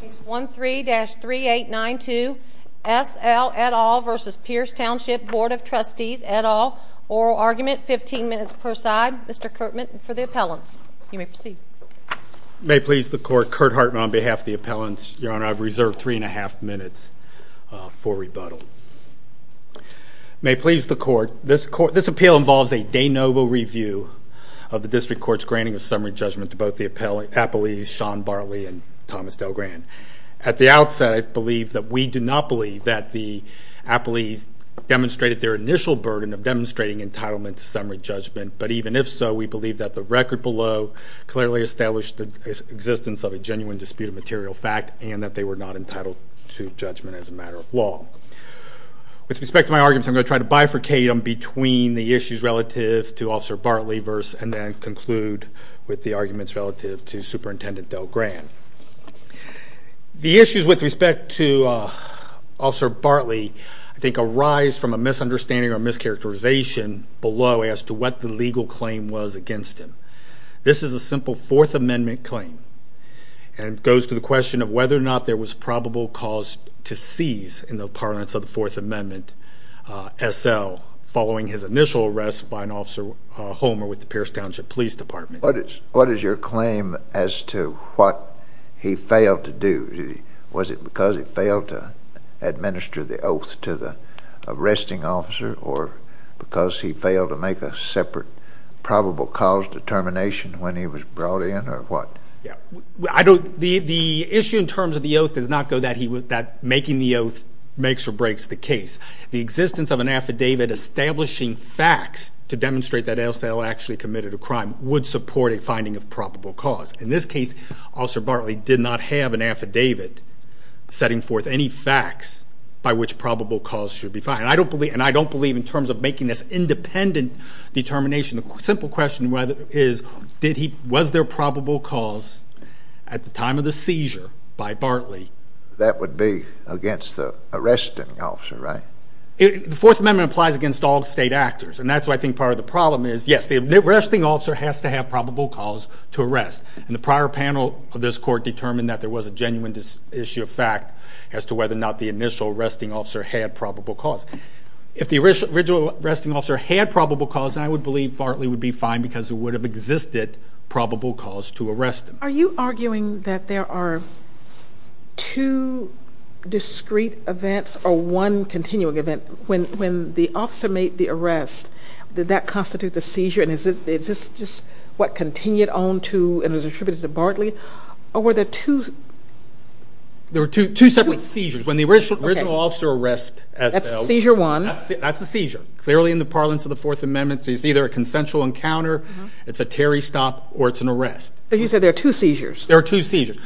Case 13-3892, S. L. et al. v. Pierce Township Bd of Trustees et al. Oral argument, 15 minutes per side. Mr. Kirtman for the appellants. You may proceed. May it please the court, Kurt Hartman on behalf of the appellants. Your Honor, I've reserved three and a half minutes for rebuttal. May it please the court, this appeal involves a de novo review of the district court's granting of summary judgment to both the appellees, Sean Bartley and Thomas Del Gran. At the outset, I believe that we do not believe that the appellees demonstrated their initial burden of demonstrating entitlement to summary judgment, but even if so, we believe that the record below clearly established the existence of a genuine dispute of material fact and that they were not entitled to judgment as a matter of law. With respect to my arguments, I'm going to try to bifurcate them between the issues relative to Officer Bartley and then conclude with the arguments relative to Superintendent Del Gran. The issues with respect to Officer Bartley I think arise from a misunderstanding or mischaracterization below as to what the legal claim was against him. This is a simple Fourth Amendment claim, and it goes to the question of whether or not there was probable cause to seize in the parlance of the Fourth Amendment S.L. following his initial arrest by an Officer Homer with the Pierce Township Police Department. What is your claim as to what he failed to do? Was it because he failed to administer the oath to the arresting officer or because he failed to make a separate probable cause determination when he was brought in or what? The issue in terms of the oath does not go that making the oath makes or breaks the case. The existence of an affidavit establishing facts to demonstrate that A.L. Stahel actually committed a crime would support a finding of probable cause. In this case, Officer Bartley did not have an affidavit setting forth any facts by which probable cause should be found, and I don't believe in terms of making this independent determination. The simple question is, was there probable cause at the time of the seizure by Bartley? That would be against the arresting officer, right? The Fourth Amendment applies against all state actors, and that's why I think part of the problem is, yes, the arresting officer has to have probable cause to arrest, and the prior panel of this court determined that there was a genuine issue of fact as to whether or not the initial arresting officer had probable cause. If the original arresting officer had probable cause, then I would believe Bartley would be fined because there would have existed probable cause to arrest him. Are you arguing that there are two discrete events or one continuing event? When the officer made the arrest, did that constitute the seizure, and is this just what continued on to and was attributed to Bartley, or were there two? There were two separate seizures. When the original officer arrests S.L. That's seizure one. That's a seizure. Clearly in the parlance of the Fourth Amendment, it's either a consensual encounter, it's a Terry stop, or it's an arrest. You said there are two seizures. There are two seizures.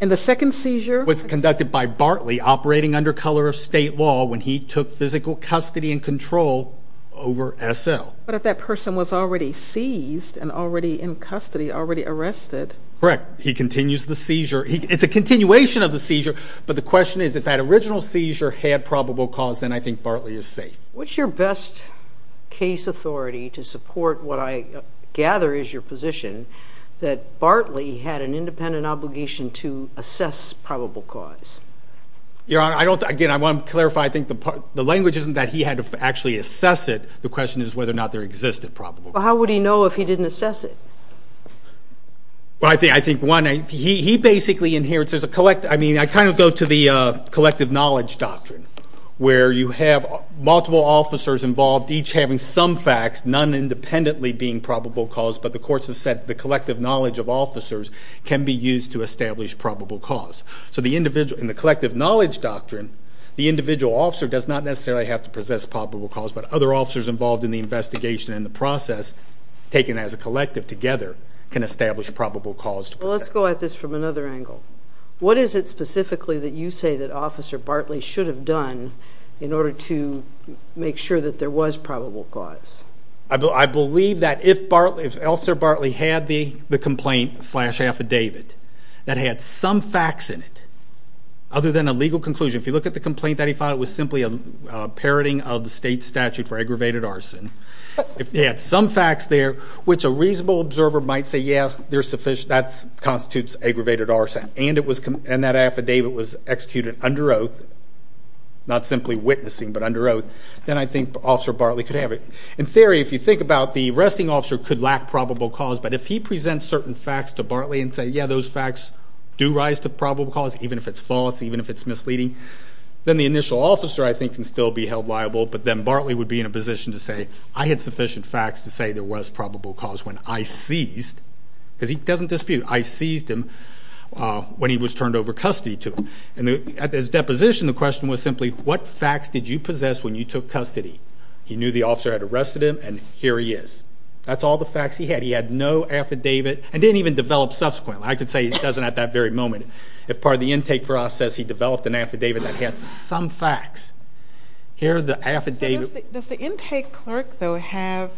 And the second seizure? It was conducted by Bartley operating under color of state law when he took physical custody and control over S.L. But if that person was already seized and already in custody, already arrested? Correct. He continues the seizure. It's a continuation of the seizure, but the question is if that original seizure had probable cause, then I think Bartley is safe. What's your best case authority to support what I gather is your position, that Bartley had an independent obligation to assess probable cause? Again, I want to clarify. I think the language isn't that he had to actually assess it. The question is whether or not there existed probable cause. How would he know if he didn't assess it? I think one, he basically inherits. I kind of go to the collective knowledge doctrine, where you have multiple officers involved, each having some facts, none independently being probable cause, but the courts have said the collective knowledge of officers can be used to establish probable cause. So in the collective knowledge doctrine, the individual officer does not necessarily have to possess probable cause, but other officers involved in the investigation and the process, taken as a collective together, can establish probable cause. Well, let's go at this from another angle. What is it specifically that you say that Officer Bartley should have done in order to make sure that there was probable cause? I believe that if Officer Bartley had the complaint slash affidavit that had some facts in it, other than a legal conclusion, if you look at the complaint that he filed, it was simply a parroting of the state statute for aggravated arson. If he had some facts there, which a reasonable observer might say, yeah, that constitutes aggravated arson, and that affidavit was executed under oath, not simply witnessing, but under oath, then I think Officer Bartley could have it. In theory, if you think about it, the arresting officer could lack probable cause, but if he presents certain facts to Bartley and says, yeah, those facts do rise to probable cause, even if it's false, even if it's misleading, then the initial officer, I think, can still be held liable, but then Bartley would be in a position to say, I had sufficient facts to say there was probable cause when I seized, because he doesn't dispute, I seized him when he was turned over custody to him. At his deposition, the question was simply, what facts did you possess when you took custody? He knew the officer had arrested him, and here he is. That's all the facts he had. He had no affidavit and didn't even develop subsequently. I could say he doesn't at that very moment. If part of the intake process, he developed an affidavit that had some facts. Here are the affidavits. Does the intake clerk, though, have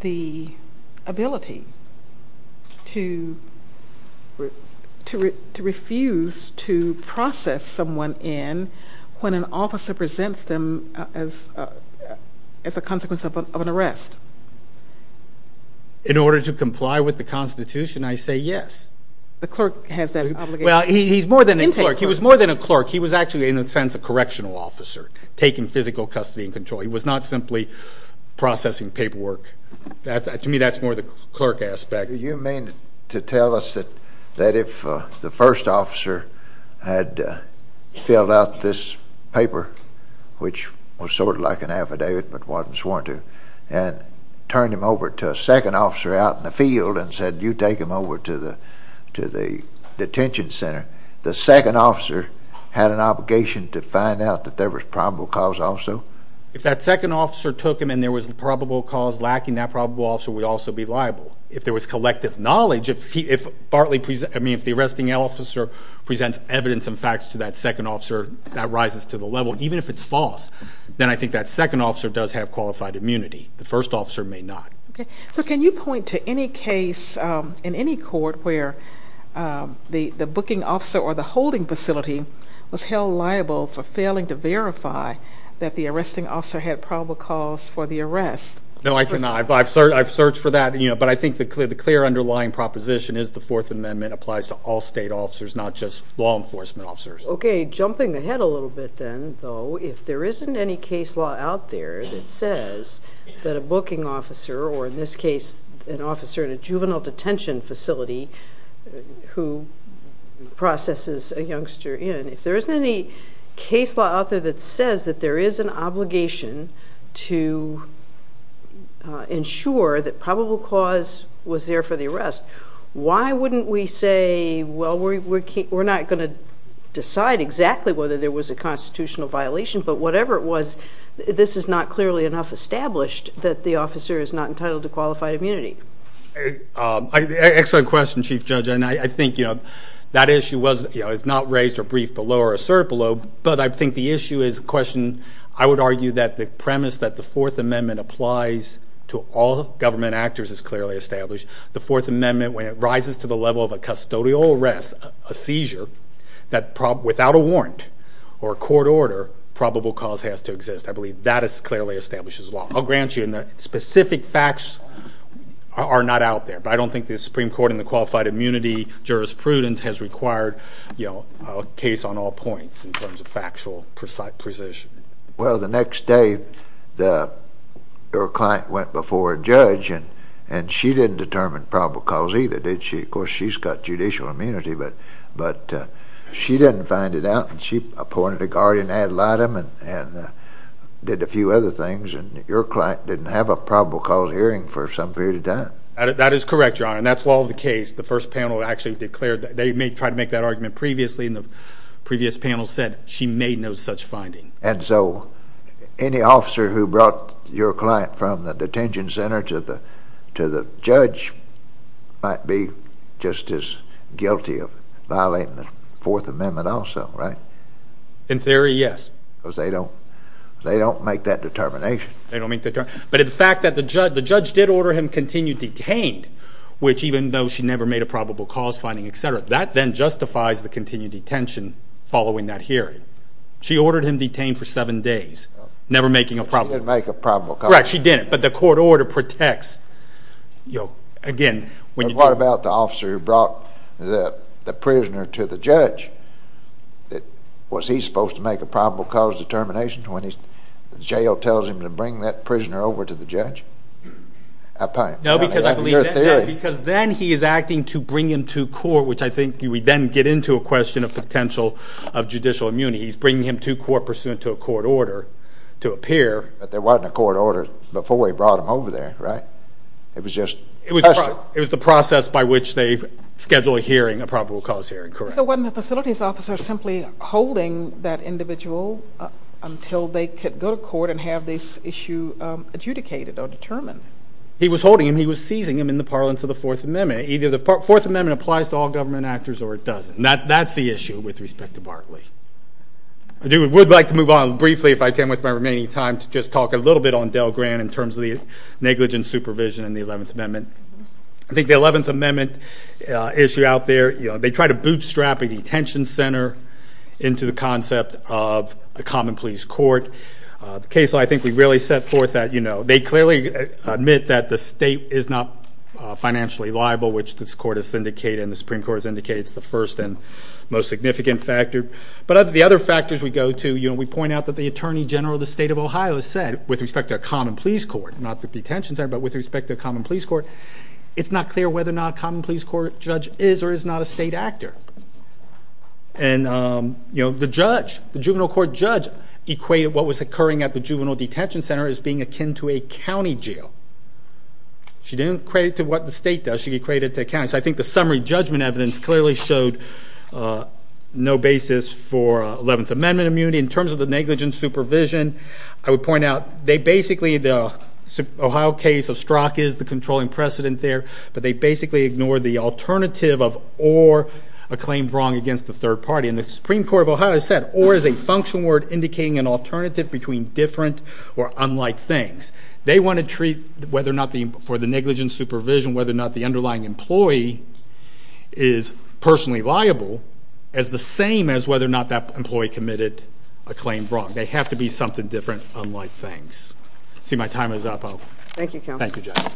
the ability to refuse to process someone in when an officer presents them as a consequence of an arrest? In order to comply with the Constitution, I say yes. The clerk has that obligation? Intake clerk. He was more than a clerk. He was actually, in a sense, a correctional officer taking physical custody and control. He was not simply processing paperwork. To me, that's more the clerk aspect. Do you mean to tell us that if the first officer had filled out this paper, which was sort of like an affidavit but wasn't sworn to, and turned him over to a second officer out in the field and said, you take him over to the detention center, the second officer had an obligation to find out that there was probable cause also? If that second officer took him and there was probable cause lacking, that probable officer would also be liable. If there was collective knowledge, if the arresting officer presents evidence and facts to that second officer, that rises to the level. Even if it's false, then I think that second officer does have qualified immunity. The first officer may not. Okay. So can you point to any case in any court where the booking officer or the holding facility was held liable for failing to verify that the arresting officer had probable cause for the arrest? No, I cannot. I've searched for that, but I think the clear underlying proposition is the Fourth Amendment applies to all state officers, not just law enforcement officers. Okay. Jumping ahead a little bit then, though, if there isn't any case law out there that says that a booking officer, or in this case an officer in a juvenile detention facility who processes a youngster in, if there isn't any case law out there that says that there is an obligation to ensure that probable cause was there for the arrest, why wouldn't we say, well, we're not going to decide exactly whether there was a constitutional violation, but whatever it was, this is not clearly enough established that the officer is not entitled to qualified immunity. Excellent question, Chief Judge. I think that issue is not raised or briefed below or asserted below, but I think the issue is a question, I would argue, that the premise that the Fourth Amendment applies to all government actors is clearly established. The Fourth Amendment, when it rises to the level of a custodial arrest, a seizure, that without a warrant or a court order, probable cause has to exist. I believe that clearly establishes law. I'll grant you that specific facts are not out there, but I don't think the Supreme Court and the qualified immunity jurisprudence has required a case on all points in terms of factual precision. Well, the next day your client went before a judge, and she didn't determine probable cause either, did she? Of course, she's got judicial immunity, but she didn't find it out, and she appointed a guardian ad litem and did a few other things, and your client didn't have a probable cause hearing for some period of time. That is correct, Your Honor, and that's all the case. The first panel actually declared that they may try to make that argument previously, and the previous panel said she made no such finding. And so any officer who brought your client from the detention center to the judge might be just as guilty of violating the Fourth Amendment also, right? In theory, yes. Because they don't make that determination. They don't make that determination. But the fact that the judge did order him continued detained, which even though she never made a probable cause finding, et cetera, that then justifies the continued detention following that hearing. She ordered him detained for seven days, never making a probable cause. She didn't make a probable cause. Correct, she didn't, but the court order protects. But what about the officer who brought the prisoner to the judge? Was he supposed to make a probable cause determination when the jail tells him to bring that prisoner over to the judge? No, because then he is acting to bring him to court, which I think we then get into a question of potential of judicial immunity. He's bringing him to court pursuant to a court order to appear. But there wasn't a court order before he brought him over there, right? It was just a question. It was the process by which they schedule a hearing, a probable cause hearing. So wasn't the facilities officer simply holding that individual until they could go to court and have this issue adjudicated or determined? He was holding him. He was seizing him in the parlance of the Fourth Amendment. Either the Fourth Amendment applies to all government actors or it doesn't. That's the issue with respect to Barclay. I would like to move on briefly if I can with my remaining time to just talk a little bit on Dell Grant in terms of the negligent supervision in the Eleventh Amendment. I think the Eleventh Amendment issue out there, they try to bootstrap a detention center into the concept of a common pleas court. The case law I think we really set forth that they clearly admit that the state is not financially liable, which this court has indicated and the Supreme Court has indicated is the first and most significant factor. But of the other factors we go to, we point out that the Attorney General of the State of Ohio said with respect to a common pleas court, not the detention center, but with respect to a common pleas court, it's not clear whether or not a common pleas court judge is or is not a state actor. And the juvenile court judge equated what was occurring at the juvenile detention center as being akin to a county jail. She didn't equate it to what the state does. She equated it to a county. So I think the summary judgment evidence clearly showed no basis for Eleventh Amendment immunity. In terms of the negligent supervision, I would point out they basically, the Ohio case of Strzok is the controlling precedent there, but they basically ignored the alternative of or, a claim wrong against the third party. And the Supreme Court of Ohio said or is a functional word indicating an alternative between different or unlike things. They want to treat whether or not for the negligent supervision, whether or not the underlying employee is personally liable as the same as whether or not that employee committed a claim wrong. They have to be something different, unlike things. See, my time is up. Thank you, Counselor. Thank you, Judge.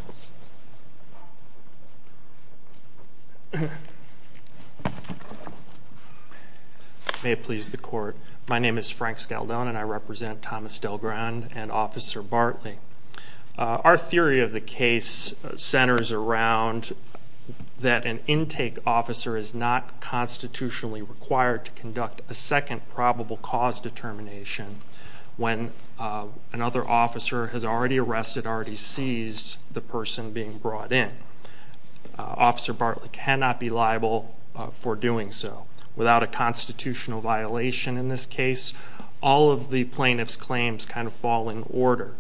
May it please the Court. My name is Frank Scaldone, and I represent Thomas DelGrand and Officer Bartley. Our theory of the case centers around that an intake officer is not constitutionally required to conduct a second probable cause determination when another officer has already arrested, already seized the person being brought in. Officer Bartley cannot be liable for doing so. Without a constitutional violation in this case, all of the plaintiff's claims kind of fall in order.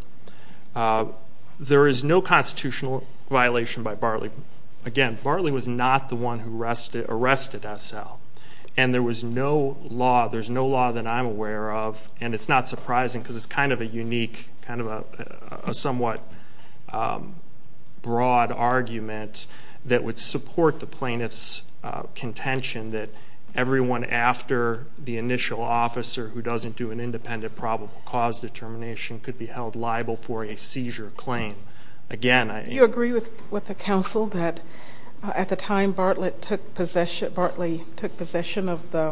There is no constitutional violation by Bartley. Again, Bartley was not the one who arrested SL. And there was no law, there's no law that I'm aware of, and it's not surprising because it's kind of a unique, kind of a somewhat broad argument that would support the plaintiff's intention that everyone after the initial officer who doesn't do an independent probable cause determination could be held liable for a seizure claim. Again, I... Do you agree with the counsel that at the time Bartley took possession of the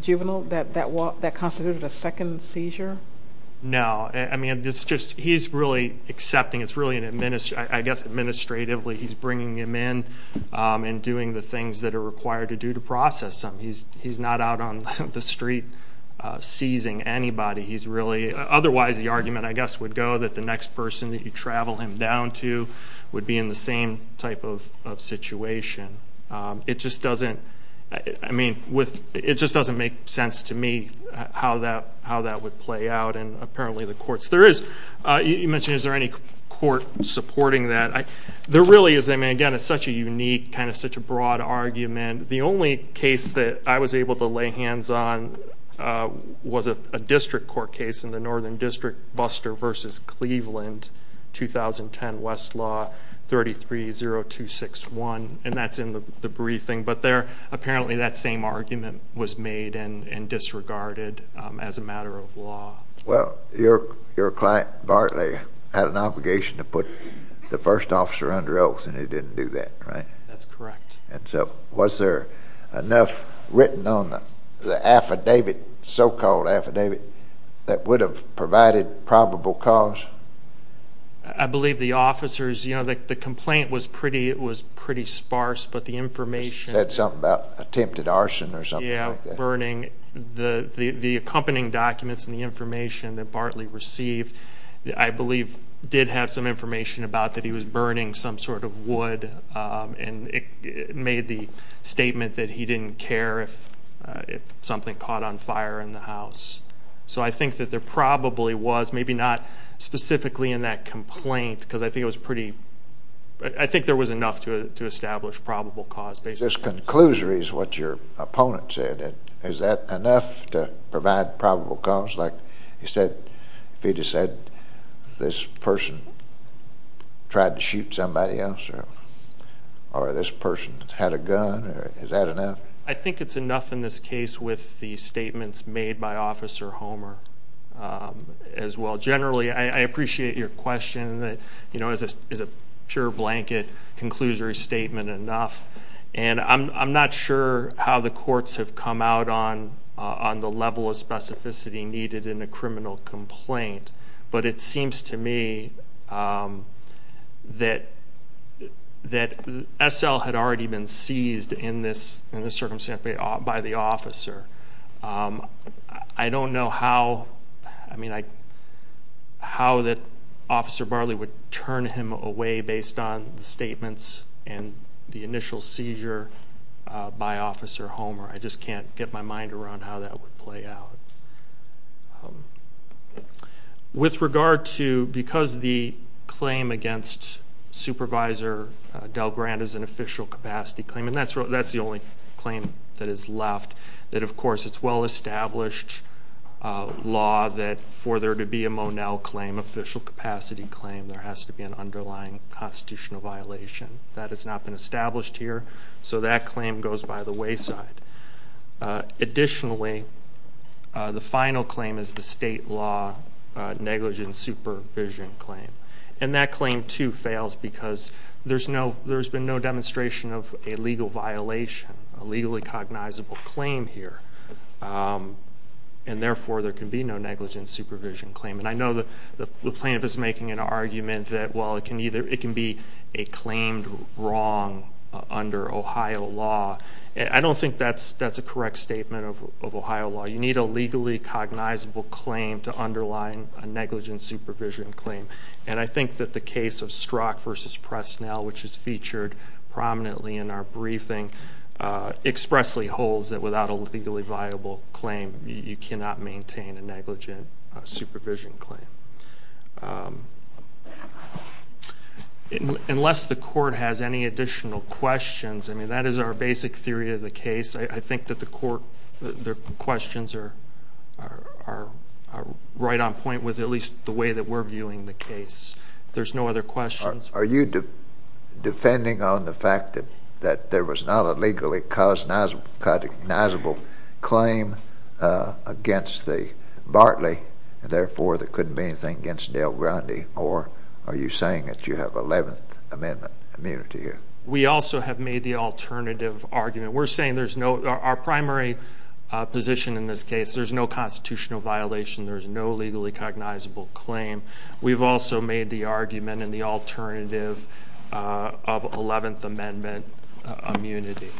juvenile, that that constituted a second seizure? No. I mean, it's just he's really accepting, it's really, I guess, administratively he's bringing him in and doing the things that are required to do to process him. He's not out on the street seizing anybody. He's really... Otherwise the argument, I guess, would go that the next person that you travel him down to would be in the same type of situation. It just doesn't, I mean, it just doesn't make sense to me how that would play out. And apparently the courts... There is, you mentioned, is there any court supporting that? There really is. I mean, again, it's such a unique, kind of such a broad argument. The only case that I was able to lay hands on was a district court case in the Northern District Buster v. Cleveland, 2010 Westlaw 330261, and that's in the briefing. But there apparently that same argument was made and disregarded as a matter of law. Well, your client Bartley had an obligation to put the first officer under oath, and he didn't do that, right? That's correct. And so was there enough written on the affidavit, so-called affidavit, that would have provided probable cause? I believe the officers, you know, the complaint was pretty sparse, but the information... It said something about attempted arson or something like that. Yeah, burning. The accompanying documents and the information that Bartley received, I believe, did have some information about that he was burning some sort of wood, and it made the statement that he didn't care if something caught on fire in the house. So I think that there probably was, maybe not specifically in that complaint, because I think it was pretty... I think there was enough to establish probable cause, basically. This conclusory is what your opponent said. Is that enough to provide probable cause? Like you said, if he just said this person tried to shoot somebody else or this person had a gun, is that enough? I think it's enough in this case with the statements made by Officer Homer as well. Generally, I appreciate your question that, you know, is a pure blanket conclusory statement enough? And I'm not sure how the courts have come out on the level of specificity needed in a criminal complaint, but it seems to me that SL had already been seized in this circumstance by the officer. I don't know how, I mean, how that Officer Bartley would turn him away based on the statements and the initial seizure by Officer Homer. I just can't get my mind around how that would play out. With regard to, because the claim against Supervisor DelGrant is an official capacity claim, and that's the only claim that is left, that, of course, it's well-established law that for there to be a Monell claim, official capacity claim, there has to be an underlying constitutional violation. That has not been established here, so that claim goes by the wayside. Additionally, the final claim is the state law negligent supervision claim. And that claim, too, fails because there's been no demonstration of a legal violation, a legally cognizable claim here, and therefore there can be no negligent supervision claim. And I know the plaintiff is making an argument that, well, it can be a claimed wrong under Ohio law. I don't think that's a correct statement of Ohio law. You need a legally cognizable claim to underline a negligent supervision claim. And I think that the case of Strzok v. Presnell, which is featured prominently in our briefing, expressly holds that without a legally viable claim, you cannot maintain a negligent supervision claim. Unless the court has any additional questions, I mean, that is our basic theory of the case. I think that the questions are right on point with at least the way that we're viewing the case. If there's no other questions. Are you defending on the fact that there was not a legally cognizable claim against Bartley, and therefore there couldn't be anything against Del Grande, or are you saying that you have 11th Amendment immunity here? We also have made the alternative argument. We're saying there's no, our primary position in this case, there's no constitutional violation, there's no legally cognizable claim. We've also made the argument in the alternative of 11th Amendment immunity.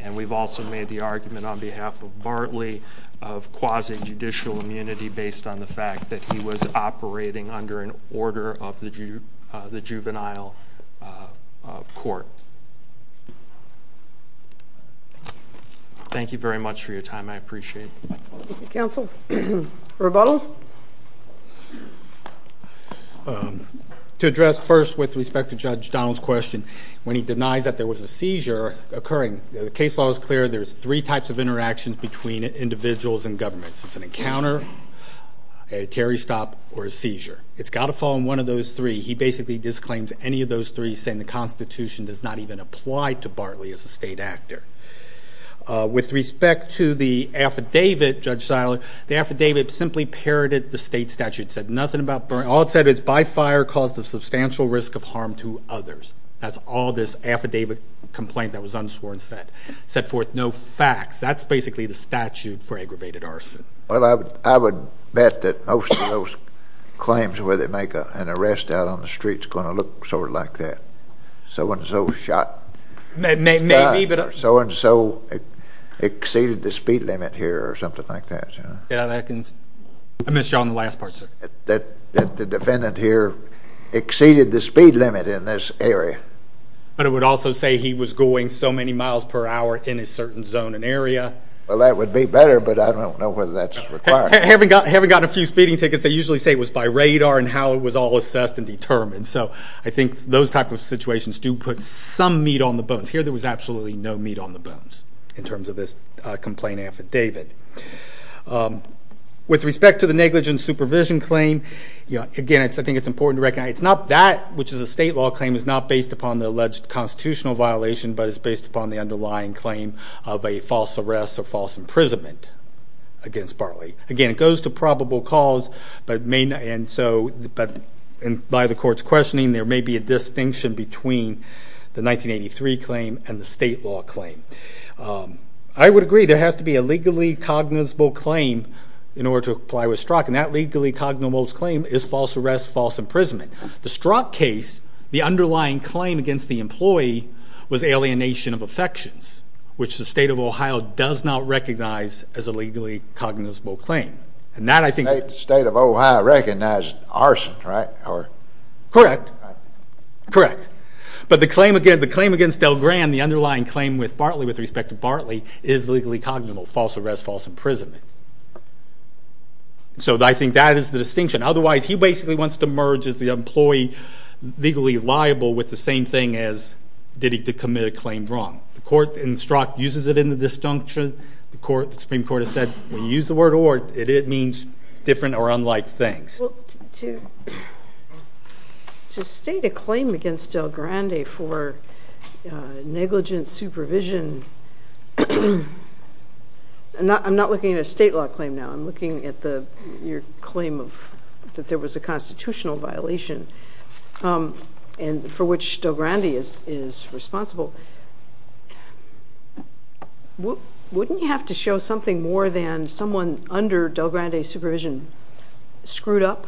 And we've also made the argument on behalf of Bartley of quasi-judicial immunity based on the fact that he was operating under an order of the juvenile court. Thank you very much for your time. I appreciate it. Counsel? Rebuttal? To address first with respect to Judge Donald's question, when he denies that there was a seizure occurring, the case law is clear there's three types of interactions between individuals and governments. It's an encounter, a Terry stop, or a seizure. It's got to fall in one of those three. He basically disclaims any of those three, saying the Constitution does not even apply to Bartley as a state actor. With respect to the affidavit, Judge Seiler, the affidavit simply parroted the state statute. It said nothing about, all it said is, by fire caused of substantial risk of harm to others. That's all this affidavit complaint that was unsworn set. Set forth no facts. That's basically the statute for aggravated arson. Well, I would bet that most of those claims where they make an arrest out on the streets are going to look sort of like that. So and so shot. Maybe, but... So and so exceeded the speed limit here or something like that. Yeah, that can... I missed you on the last part, sir. That the defendant here exceeded the speed limit in this area. But it would also say he was going so many miles per hour in a certain zone and area. Well, that would be better, but I don't know whether that's required. Having gotten a few speeding tickets, they usually say it was by radar and how it was all assessed and determined. So I think those type of situations do put some meat on the bones. Here there was absolutely no meat on the bones in terms of this complaint affidavit. With respect to the negligence supervision claim, again, I think it's important to recognize it's not that, which is a state law claim. It's not based upon the alleged constitutional violation, but it's based upon the underlying claim of a false arrest or false imprisonment against Barley. Again, it goes to probable cause, but by the court's questioning, there may be a distinction between the 1983 claim and the state law claim. I would agree there has to be a legally cognizable claim in order to apply with Strzok, and that legally cognizable claim is false arrest, false imprisonment. The Strzok case, the underlying claim against the employee was alienation of affections, which the state of Ohio does not recognize as a legally cognizable claim. The state of Ohio recognized arson, right? Correct. But the claim against DelGran, the underlying claim with respect to Barley, is legally cognizable, false arrest, false imprisonment. So I think that is the distinction. Otherwise, he basically wants to merge the employee legally liable with the same thing as did he commit a claim wrong. The court in Strzok uses it in the distinction. The Supreme Court has said when you use the word or, it means different or unlike things. Well, to state a claim against DelGrande for negligent supervision, I'm not looking at a state law claim now, I'm looking at your claim that there was a constitutional violation for which DelGrande is responsible. Wouldn't you have to show something more than someone under DelGrande's supervision screwed up?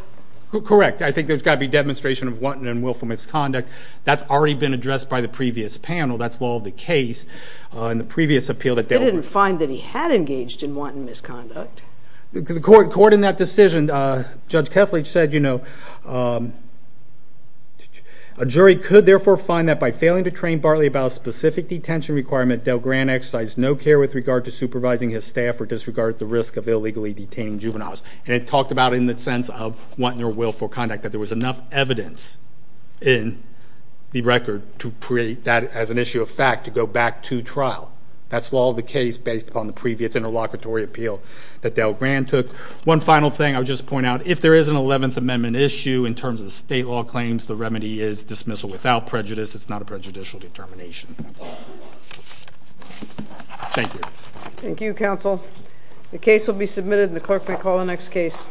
Correct. I think there's got to be a demonstration of wanton and willful misconduct. That's already been addressed by the previous panel. That's law of the case in the previous appeal that DelGrande. They didn't find that he had engaged in wanton misconduct. The court in that decision, Judge Kethledge, said, you know, a jury could therefore find that by failing to train Bartley about a specific detention requirement, DelGrande exercised no care with regard to supervising his staff or disregarded the risk of illegally detaining juveniles. And it talked about it in the sense of wanton or willful conduct, that there was enough evidence in the record to create that as an issue of fact to go back to trial. That's law of the case based upon the previous interlocutory appeal that DelGrande took. One final thing I would just point out. If there is an Eleventh Amendment issue in terms of state law claims, the remedy is dismissal without prejudice. It's not a prejudicial determination. Thank you. Thank you, counsel. The case will be submitted and the clerk may call the next case.